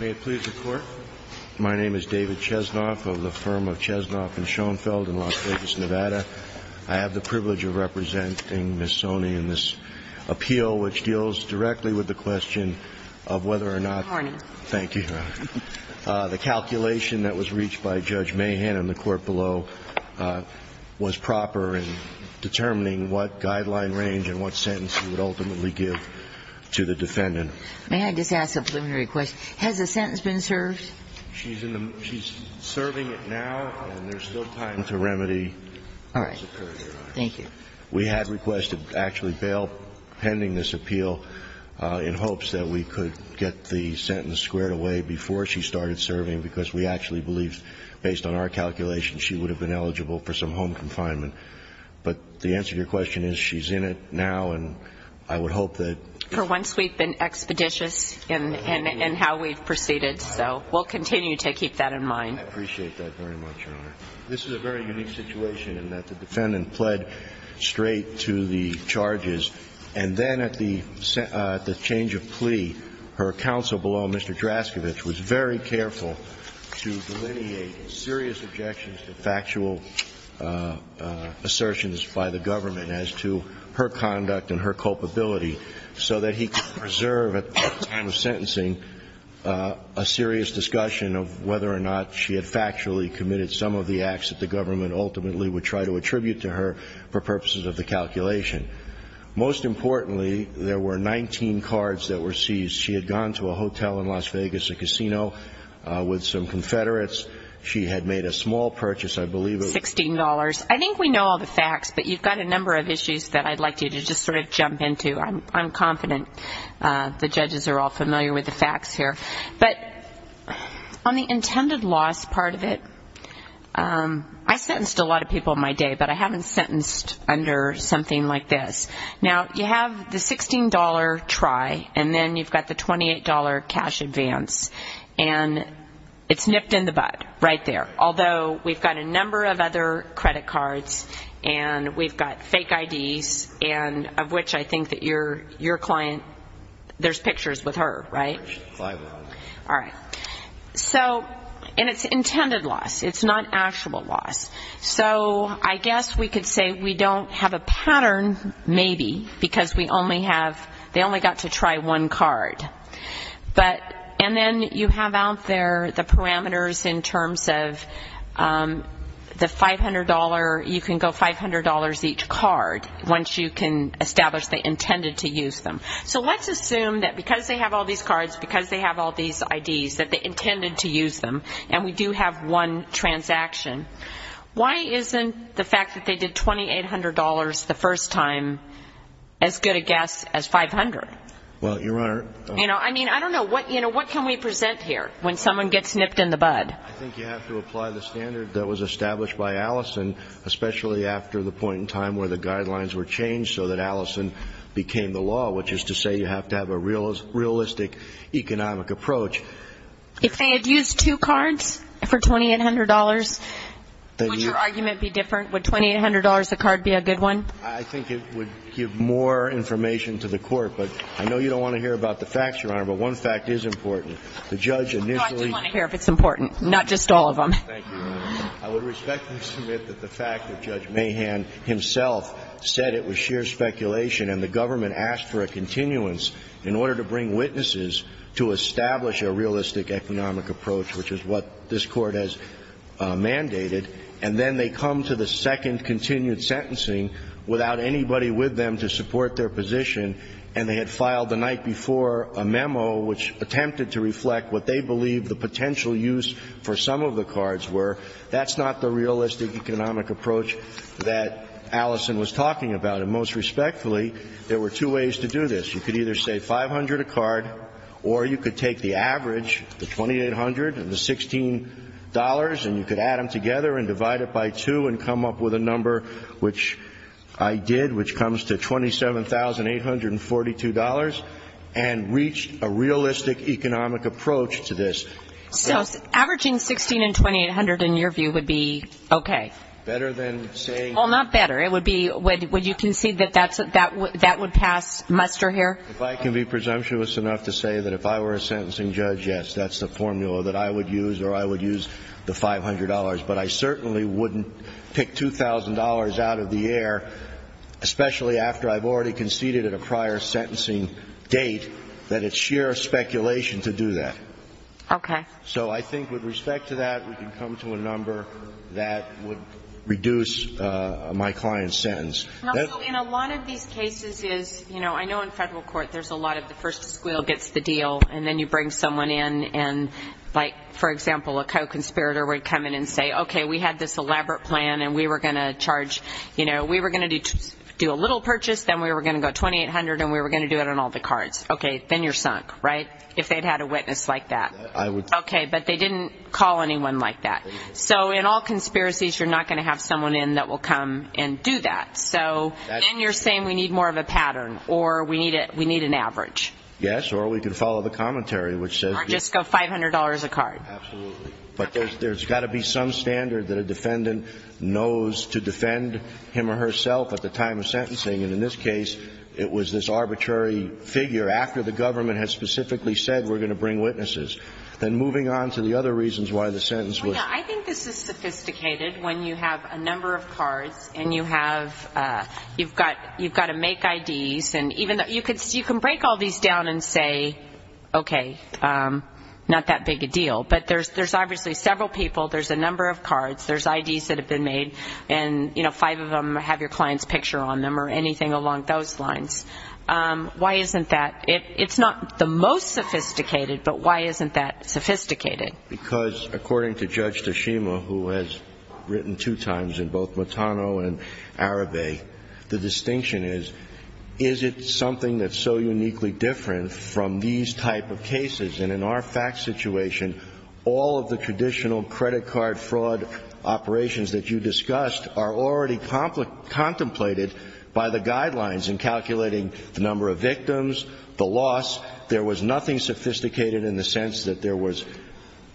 May it please the Court, my name is David Chesnoff of the firm of Chesnoff & Schoenfeld in Las Vegas, Nevada. I have the privilege of representing Ms. Soni in this appeal which deals directly with the question of whether or not Pardon me. Thank you. The calculation that was reached by Judge Mahan in the court below was proper in determining what guideline range and what sentence he would ultimately give to the plaintiff. May I just ask a preliminary question? Has the sentence been served? She's serving it now and there's still time to remedy. All right. Thank you. We had requested actually bail pending this appeal in hopes that we could get the sentence squared away before she started serving because we actually believe based on our calculation she would have been eligible for some home confinement. But the answer to your question is she's in it now and I would hope that For once we've been expeditious in how we've proceeded so we'll continue to keep that in mind. I appreciate that very much, Your Honor. This is a very unique situation in that the defendant pled straight to the charges and then at the change of plea her counsel below Mr. Draskiewicz was very careful to delineate serious objections to factual assertions by the government as to her conduct and her culpability so that he could preserve at the time of sentencing a serious discussion of whether or not she had factually committed some of the acts that the government ultimately would try to attribute to her for purposes of the calculation. Most importantly, there were 19 cards that were seized. She had gone to a hotel in Las Vegas, a casino with some Confederates. She had made a small purchase, I believe it was $16. I think we know all the facts but you've got a number of issues that I'd like you to just sort of jump into. I'm confident the judges are all familiar with the facts here. But on the intended loss part of it, I sentenced a lot of people in my day but I haven't sentenced under something like this. Now you have the $16 try and then you've got the $28 cash advance and it's nipped in the credit cards and we've got fake IDs and of which I think that your client, there's pictures with her, right? Right. All right. So and it's intended loss. It's not actual loss. So I guess we could say we don't have a pattern maybe because we only have, they only got to try one card. But and then you have out there the parameters in terms of the $500, you can go $500 each card once you can establish they intended to use them. So let's assume that because they have all these cards, because they have all these IDs, that they intended to use them and we do have one transaction. Why isn't the fact that they did $2,800 the first time as good a guess as $500? Well, Your Honor... I mean, I don't know what, you know, what can we present here when someone gets nipped in the bud? I think you have to apply the standard that was established by Allison, especially after the point in time where the guidelines were changed so that Allison became the law, which is to say you have to have a realistic economic approach. If they had used two cards for $2,800, would your argument be different? Would $2,800 a card be a good one? I think it would give more information to the court. But I know you don't want to hear about the facts, Your Honor, but one fact is important. The judge initially... No, I do want to hear if it's important, not just all of them. Thank you, Your Honor. I would respectfully submit that the fact that Judge Mahan himself said it was sheer speculation and the government asked for a continuance in order to bring witnesses to establish a realistic economic approach, which is what this Court has mandated, and then they come to the second continued sentencing without anybody with them to support their position and they had filed the night before a memo which attempted to reflect what they believed the potential use for some of the cards were, that's not the realistic economic approach that Allison was talking about. And most respectfully, there were two ways to do this. You could either say $500 a card or you could take the average, the $2,800 and the $16, and you could add them together and divide it by two and come up with a number, which I did, which comes to $27,842 and reach a realistic economic approach to this. So averaging $16,800 and $16,800 in your view would be okay? Better than saying... Well, not better. It would be, would you concede that that would pass muster here? If I can be presumptuous enough to say that if I were a sentencing judge, yes, that's a formula that I would use or I would use the $500, but I certainly wouldn't pick $2,000 out of the air, especially after I've already conceded at a prior sentencing date that it's sheer speculation to do that. Okay. So I think with respect to that, we can come to a number that would reduce my client's sentence. Also, in a lot of these cases is, you know, I know in federal court there's a lot of the first squeal gets the deal and then you bring someone in and like, for example, a co-conspirator would come in and say, okay, we had this elaborate plan and we were going to charge, you know, we were going to do a little purchase, then we were going to go $2,800 and we were going to do it on all the cards. Okay. Then you're sunk, right? If they'd had a witness like that. I would... Okay. But they didn't call anyone like that. So in all conspiracies, you're not going to have someone in that will come and do that. So then you're saying we need more of a pattern or we need it. We need an average. Yes. Or we can follow the commentary, which says... Or just go $500 a card. Absolutely. But there's got to be some standard that a defendant knows to defend him or herself at the time of sentencing. And in this case, it was this arbitrary figure after the government has specifically said, we're going to bring witnesses. Then moving on to the other reasons why the sentence was... I think this is sophisticated when you have a number of cards and you have, you've got to make IDs. You can break all these down and say, okay, not that big a deal. But there's obviously several people, there's a number of cards, there's IDs that have been made and five of them have your client's picture on them or anything along those lines. Why isn't that... It's not the most sophisticated, but why isn't that sophisticated? Because according to Judge Tashima, who has written two times in both Matano and Arabe, the distinction is, is it something that's so uniquely different from these type of cases? And in our fact situation, all of the traditional credit card fraud operations that you discussed are already contemplated by the guidelines in calculating the number of victims, the loss. There was nothing sophisticated in the sense that there was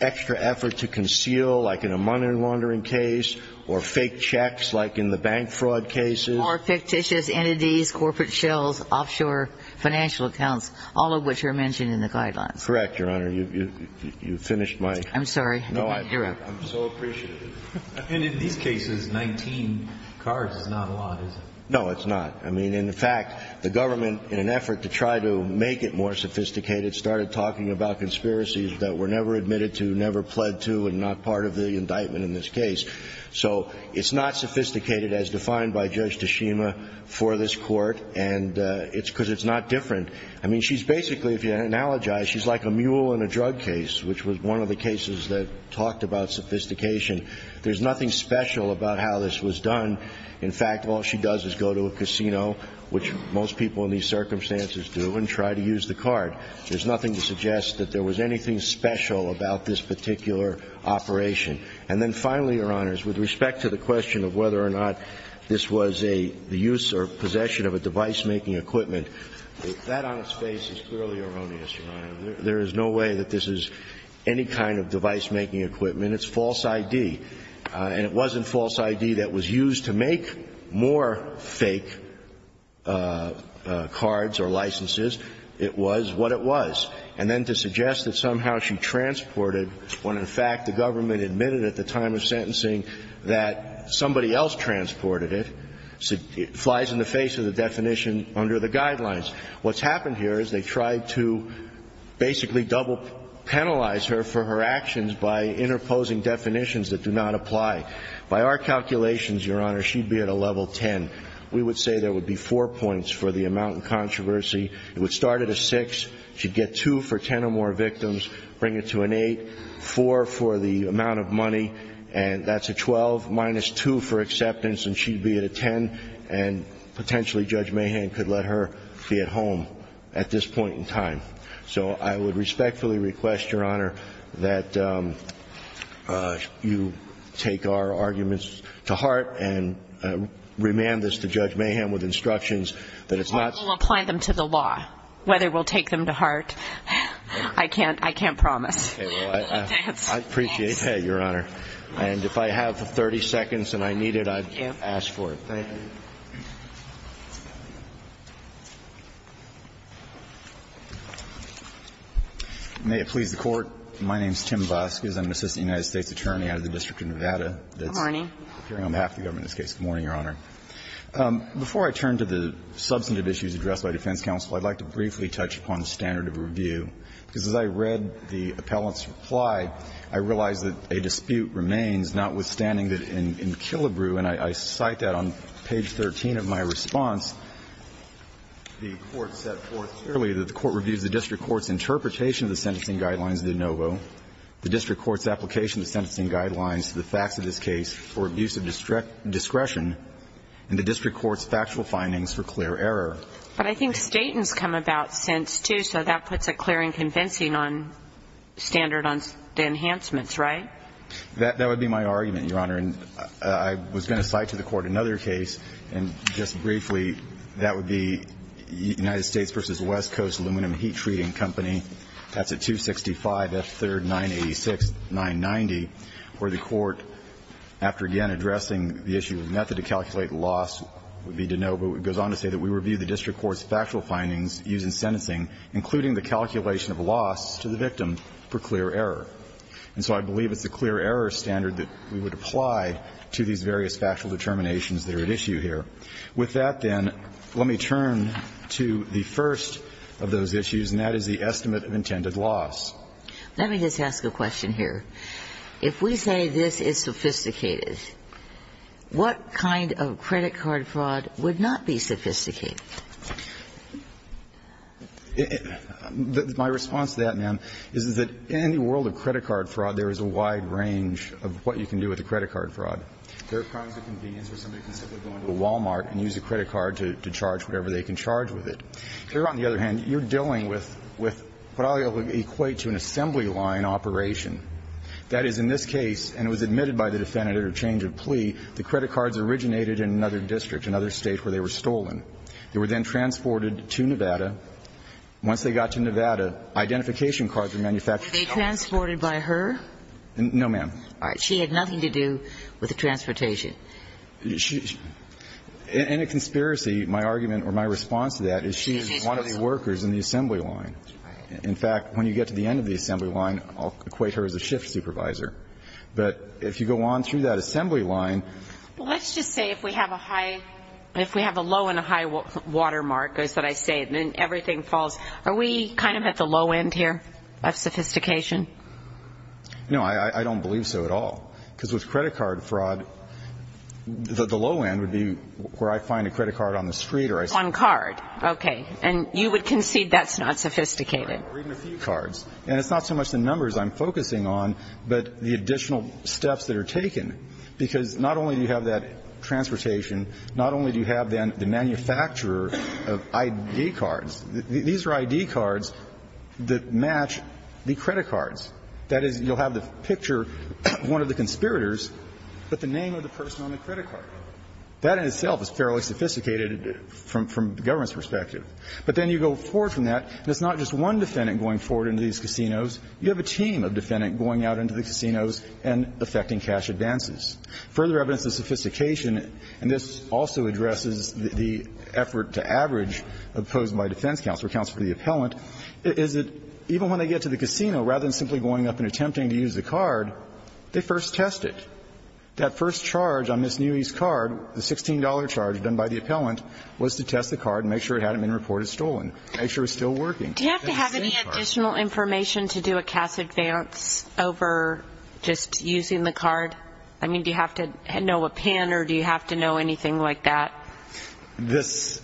extra effort to conceal, like in a money laundering case or fake checks, like in the bank fraud cases. Or fictitious entities, corporate shills, offshore financial accounts, all of which are mentioned in the guidelines. Correct, Your Honor. You finished my... I'm sorry. No, I'm so appreciative. And in these cases, 19 cards is not a lot, is it? No, it's not. I mean, in fact, the government, in an effort to try to make it more sophisticated, started talking about conspiracies that were never admitted to, never pled to and not part of the indictment in this case. So it's not sophisticated as defined by Judge Tashima for this court, and it's because it's not different. I mean, she's basically, if you analogize, she's like a mule in a drug case, which was one of the cases that talked about sophistication. There's nothing special about how this was done. In fact, all she does is go to a casino, which most people in these circumstances do, and try to use the card. There's nothing to suggest that there was anything special about this particular operation. And then finally, Your Honors, with respect to the question of whether or not this was a use or possession of a device-making equipment, that on its face is clearly erroneous, Your Honor. There is no way that this is any kind of device-making equipment. It's false ID. And it wasn't false ID that was used to make more fake cards or licenses. It was what it was. And then to suggest that somehow she transported, when in fact the government admitted at the time of sentencing that somebody else transported it, it flies in the face of the definition under the guidelines. What's happened here is they tried to basically double penalize her for her actions by interposing definitions that do not apply. By our calculations, Your Honor, she'd be at a level 10. We would say there would be 4 points for the amount in controversy. It would start at a 6. She'd get 2 for 10 or more victims, bring it to an 8, 4 for the amount of money, and that's a 12, minus 2 for acceptance, and she'd be at a 10. And potentially Judge Mahan could let her be at home at this point in time. So I would respectfully request, Your Honor, that you take our arguments to heart and remand this to Judge Mahan with instructions that it's not... We'll apply them to the law, whether we'll take them to heart. I can't promise. Okay. Well, I appreciate that, Your Honor. And if I have 30 seconds and I need it, I'd ask for it. Thank you. May it please the Court. My name's Tim Busk, as I'm an assistant United States attorney out of the District of Nevada. Good morning. Good morning, Your Honor. Before I turn to the substantive issues addressed by defense counsel, I'd like to briefly touch upon the standard of review, because as I read the appellant's reply, I realized that a dispute remains, notwithstanding that in Killebrew, and I cite that on page 13 of my response, the Court set forth clearly that the Court reviews the district court's interpretation of the sentencing guidelines of the ANOVO, the district court's application of the sentencing guidelines to the facts of this case for abuse of discretion, and the district court's factual findings for clear error. But I think Staten's come about since, too, so that puts a clear and convincing standard on the enhancements, right? That would be my argument, Your Honor. And I was going to cite to the Court another case, and just briefly, that would be United States v. West Coast Aluminum Heat Treating Company, that's at 265 F. 3rd, 986, 990, where the Court, after again addressing the issue of method to calculate loss, would be to know, but it goes on to say that we review the district court's factual findings used in sentencing, including the calculation of loss to the victim for clear error. And so I believe it's a clear error standard that we would apply to these various factual determinations that are at issue here. With that, then, let me turn to the first of those issues, and that is the estimate of intended loss. Let me just ask a question here. If we say this is sophisticated, what kind of credit card fraud would not be sophisticated? My response to that, ma'am, is that in any world of credit card fraud, there is a wide range of what you can do with a credit card fraud. There are crimes of convenience where somebody can simply go into a Wal-Mart and use a credit card to charge whatever they can charge with it. Here, on the other hand, you're dealing with what I'll equate to an assembly line operation. That is, in this case, and it was admitted by the defendant at her change of plea, the credit cards originated in another district, another State, where they were stolen. They were then transported to Nevada. Once they got to Nevada, identification cards were manufactured. Were they transported by her? No, ma'am. All right. She had nothing to do with the transportation. In a conspiracy, my argument or my response to that is she is one of the workers in the assembly line. In fact, when you get to the end of the assembly line, I'll equate her as a shift supervisor. But if you go on through that assembly line Well, let's just say if we have a high – if we have a low and a high watermark, is what I say, and then everything falls. Are we kind of at the low end here of sophistication? No, I don't believe so at all, because with credit card fraud, the low end would be where I find a credit card on the street or I see it. On card. Okay. And you would concede that's not sophisticated. Even a few cards. And it's not so much the numbers I'm focusing on, but the additional steps that are taken, because not only do you have that transportation, not only do you have then the manufacturer of ID cards. These are ID cards that match the credit cards. That is, you'll have the picture of one of the conspirators, but the name of the person on the credit card. That in itself is fairly sophisticated from the government's perspective. But then you go forward from that, and it's not just one defendant going forward into these casinos. You have a team of defendants going out into the casinos and effecting cash advances. Further evidence of sophistication, and this also addresses the effort to average opposed by defense counsel or counsel for the appellant, is that even when they get to the casino, rather than simply going up and attempting to use the card, they first test it. That first charge on this newbie's card, the $16 charge done by the appellant, was to test the card and make sure it hadn't been reported stolen, make sure it's still working. Do you have to have any additional information to do a cash advance over just using the card? I mean, do you have to know a PIN or do you have to know anything like that? This,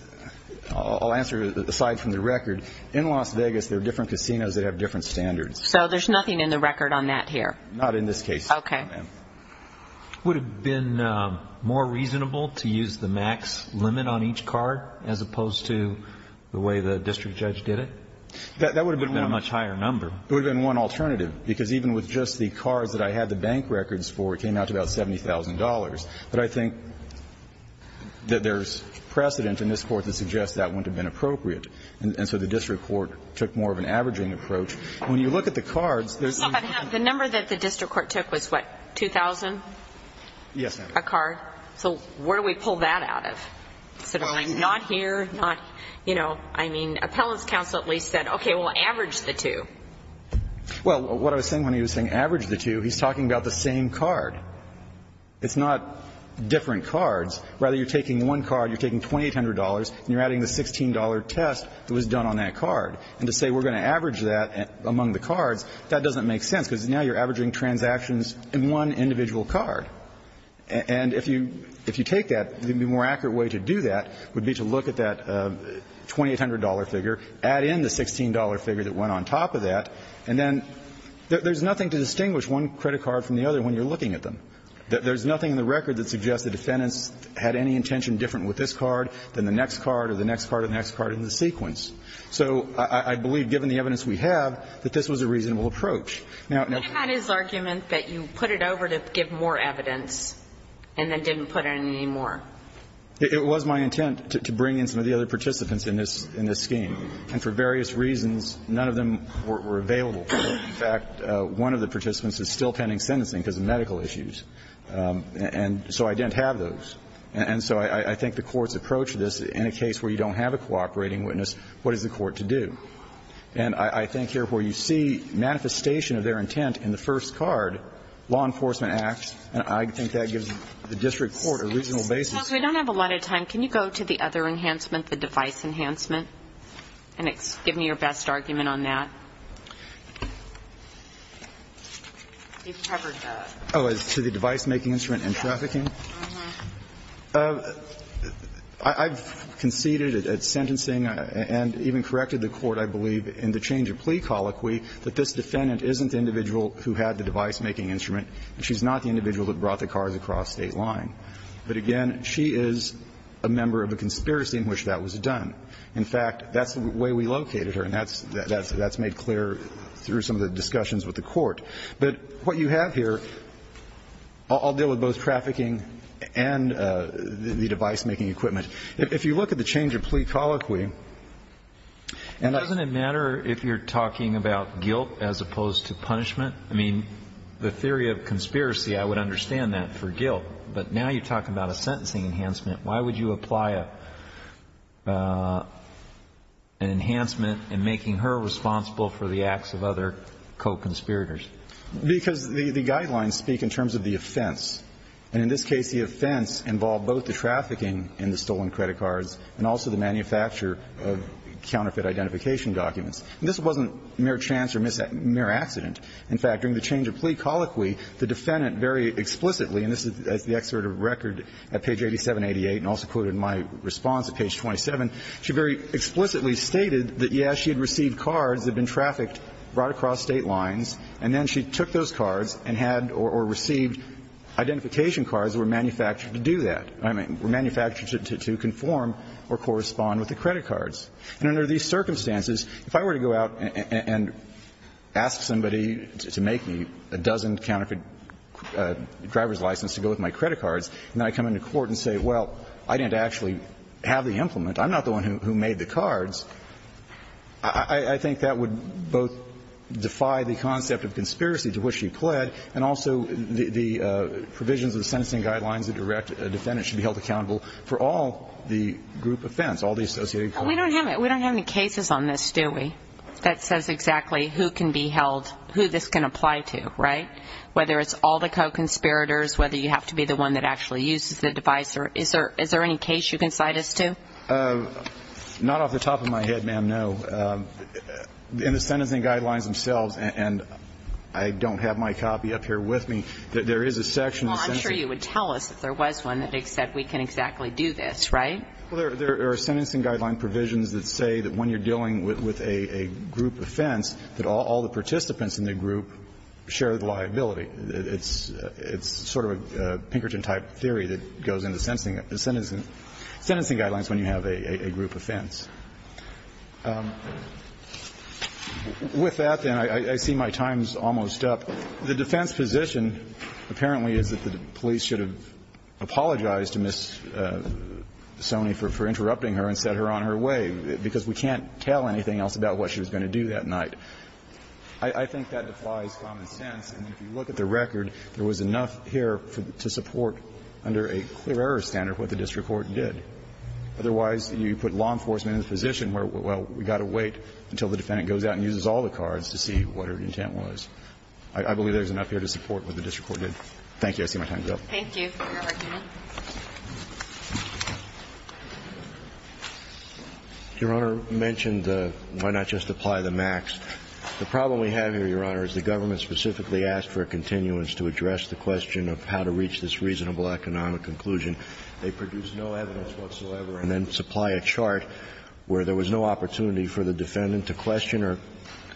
I'll answer aside from the record. In Las Vegas, there are different casinos that have different standards. So there's nothing in the record on that here? Not in this case, ma'am. Okay. Would it have been more reasonable to use the max limit on each card as opposed to the way the district judge did it? That would have been a much higher number. It would have been one alternative, because even with just the cards that I had the But I think that there's precedent in this Court that suggests that wouldn't have been appropriate. And so the district court took more of an averaging approach. When you look at the cards, there's some of them. But the number that the district court took was what, 2,000? Yes, ma'am. A card. So where do we pull that out of? Not here, not, you know, I mean, appellant's counsel at least said, okay, we'll average the two. Well, what I was saying when he was saying average the two, he's talking about the same card. It's not different cards. Rather, you're taking one card, you're taking $2,800, and you're adding the $16 test that was done on that card. And to say we're going to average that among the cards, that doesn't make sense, because now you're averaging transactions in one individual card. And if you take that, the more accurate way to do that would be to look at that $2,800 figure, add in the $16 figure that went on top of that, and then there's nothing to distinguish one credit card from the other when you're looking at them. There's nothing in the record that suggests the defendants had any intention different with this card than the next card or the next card or the next card in the sequence. So I believe, given the evidence we have, that this was a reasonable approach. Now, now can you go back to your argument that you put it over to give more evidence and then didn't put in any more? It was my intent to bring in some of the other participants in this scheme. And for various reasons, none of them were available. In fact, one of the participants is still pending sentencing because of medical issues. And so I didn't have those. And so I think the courts approach this, in a case where you don't have a cooperating witness, what is the court to do? And I think here where you see manifestation of their intent in the first card, law enforcement acts, and I think that gives the district court a reasonable basis. Ms. Smith, we don't have a lot of time. Can you go to the other enhancement, the device enhancement, and give me your best argument on that? To the device-making instrument and trafficking? I've conceded at sentencing and even corrected the Court, I believe, in the change of plea colloquy that this defendant isn't the individual who had the device-making instrument, and she's not the individual that brought the cars across State line. But again, she is a member of a conspiracy in which that was done. In fact, that's the way we located her, and that's made clear through some of the discussions with the Court. But what you have here, I'll deal with both trafficking and the device-making equipment. If you look at the change of plea colloquy, and I don't know if you're talking about guilt as opposed to punishment. I mean, the theory of conspiracy, I would understand that for guilt. But now you're talking about a sentencing enhancement. Why would you apply an enhancement in making her responsible for the acts of other co-conspirators? Because the guidelines speak in terms of the offense. And in this case, the offense involved both the trafficking in the stolen credit cards and also the manufacture of counterfeit identification documents. And this wasn't mere chance or mere accident. In fact, during the change of plea colloquy, the defendant very explicitly, and this is the excerpt of record at page 8788, and also quoted in my response at page 27, she very explicitly stated that, yes, she had received cards that had been trafficked right across State lines, and then she took those cards and had or received identification cards that were manufactured to do that. I mean, were manufactured to conform or correspond with the credit cards. And under these circumstances, if I were to go out and ask somebody to make me a dozen of counterfeit driver's licenses to go with my credit cards, and I come into court and say, well, I didn't actually have the implement, I'm not the one who made the cards, I think that would both defy the concept of conspiracy to which she pled, and also the provisions of the sentencing guidelines that a defendant should be held accountable for all the group offense, all the associated crimes. We don't have any cases on this, do we, that says exactly who can be held, who this can apply to, right? Whether it's all the co-conspirators, whether you have to be the one that actually uses the device, is there any case you can cite us to? Not off the top of my head, ma'am, no. In the sentencing guidelines themselves, and I don't have my copy up here with me, there is a section. Well, I'm sure you would tell us if there was one that said we can exactly do this, right? Well, there are sentencing guideline provisions that say that when you're dealing with a group offense, that all the participants in the group share the liability. It's sort of a Pinkerton-type theory that goes into sentencing guidelines when you have a group offense. With that, then, I see my time's almost up. The defense position apparently is that the police should have apologized to Ms. Sonny for interrupting her and set her on her way, because we can't tell anything else about what she was going to do that night. I think that defies common sense. And if you look at the record, there was enough here to support under a clear error standard what the district court did. Otherwise, you put law enforcement in a position where, well, we've got to wait until the defendant goes out and uses all the cards to see what her intent was. I believe there's enough here to support what the district court did. Thank you. I see my time's up. Thank you for your argument. Your Honor, you mentioned why not just apply the max. The problem we have here, Your Honor, is the government specifically asked for a continuance to address the question of how to reach this reasonable economic conclusion. They produce no evidence whatsoever and then supply a chart where there was no opportunity for the defendant to question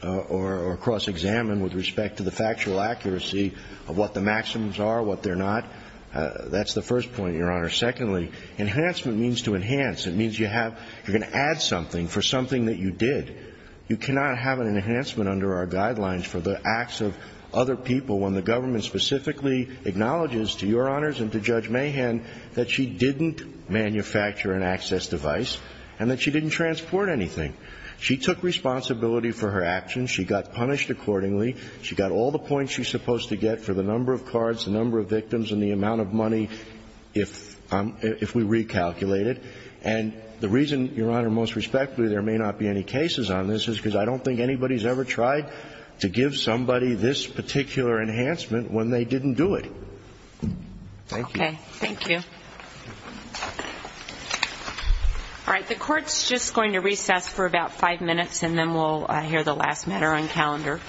or cross-examine with respect to the factual accuracy of what the maximums are, what they're not. That's the first point, Your Honor. Secondly, enhancement means to enhance. It means you have to add something for something that you did. You cannot have an enhancement under our guidelines for the acts of other people when the government specifically acknowledges to Your Honors and to Judge Mahan that she didn't manufacture an access device and that she didn't transport anything. She took responsibility for her actions. She got punished accordingly. She got all the points she's supposed to get for the number of cards, the number of victims, and the amount of money if we recalculate it. And the reason, Your Honor, most respectfully there may not be any cases on this is because I don't think anybody's ever tried to give somebody this particular enhancement when they didn't do it. Thank you. Okay. Thank you. All right. The Court's just going to recess for about five minutes and then we'll hear the last matter on calendar.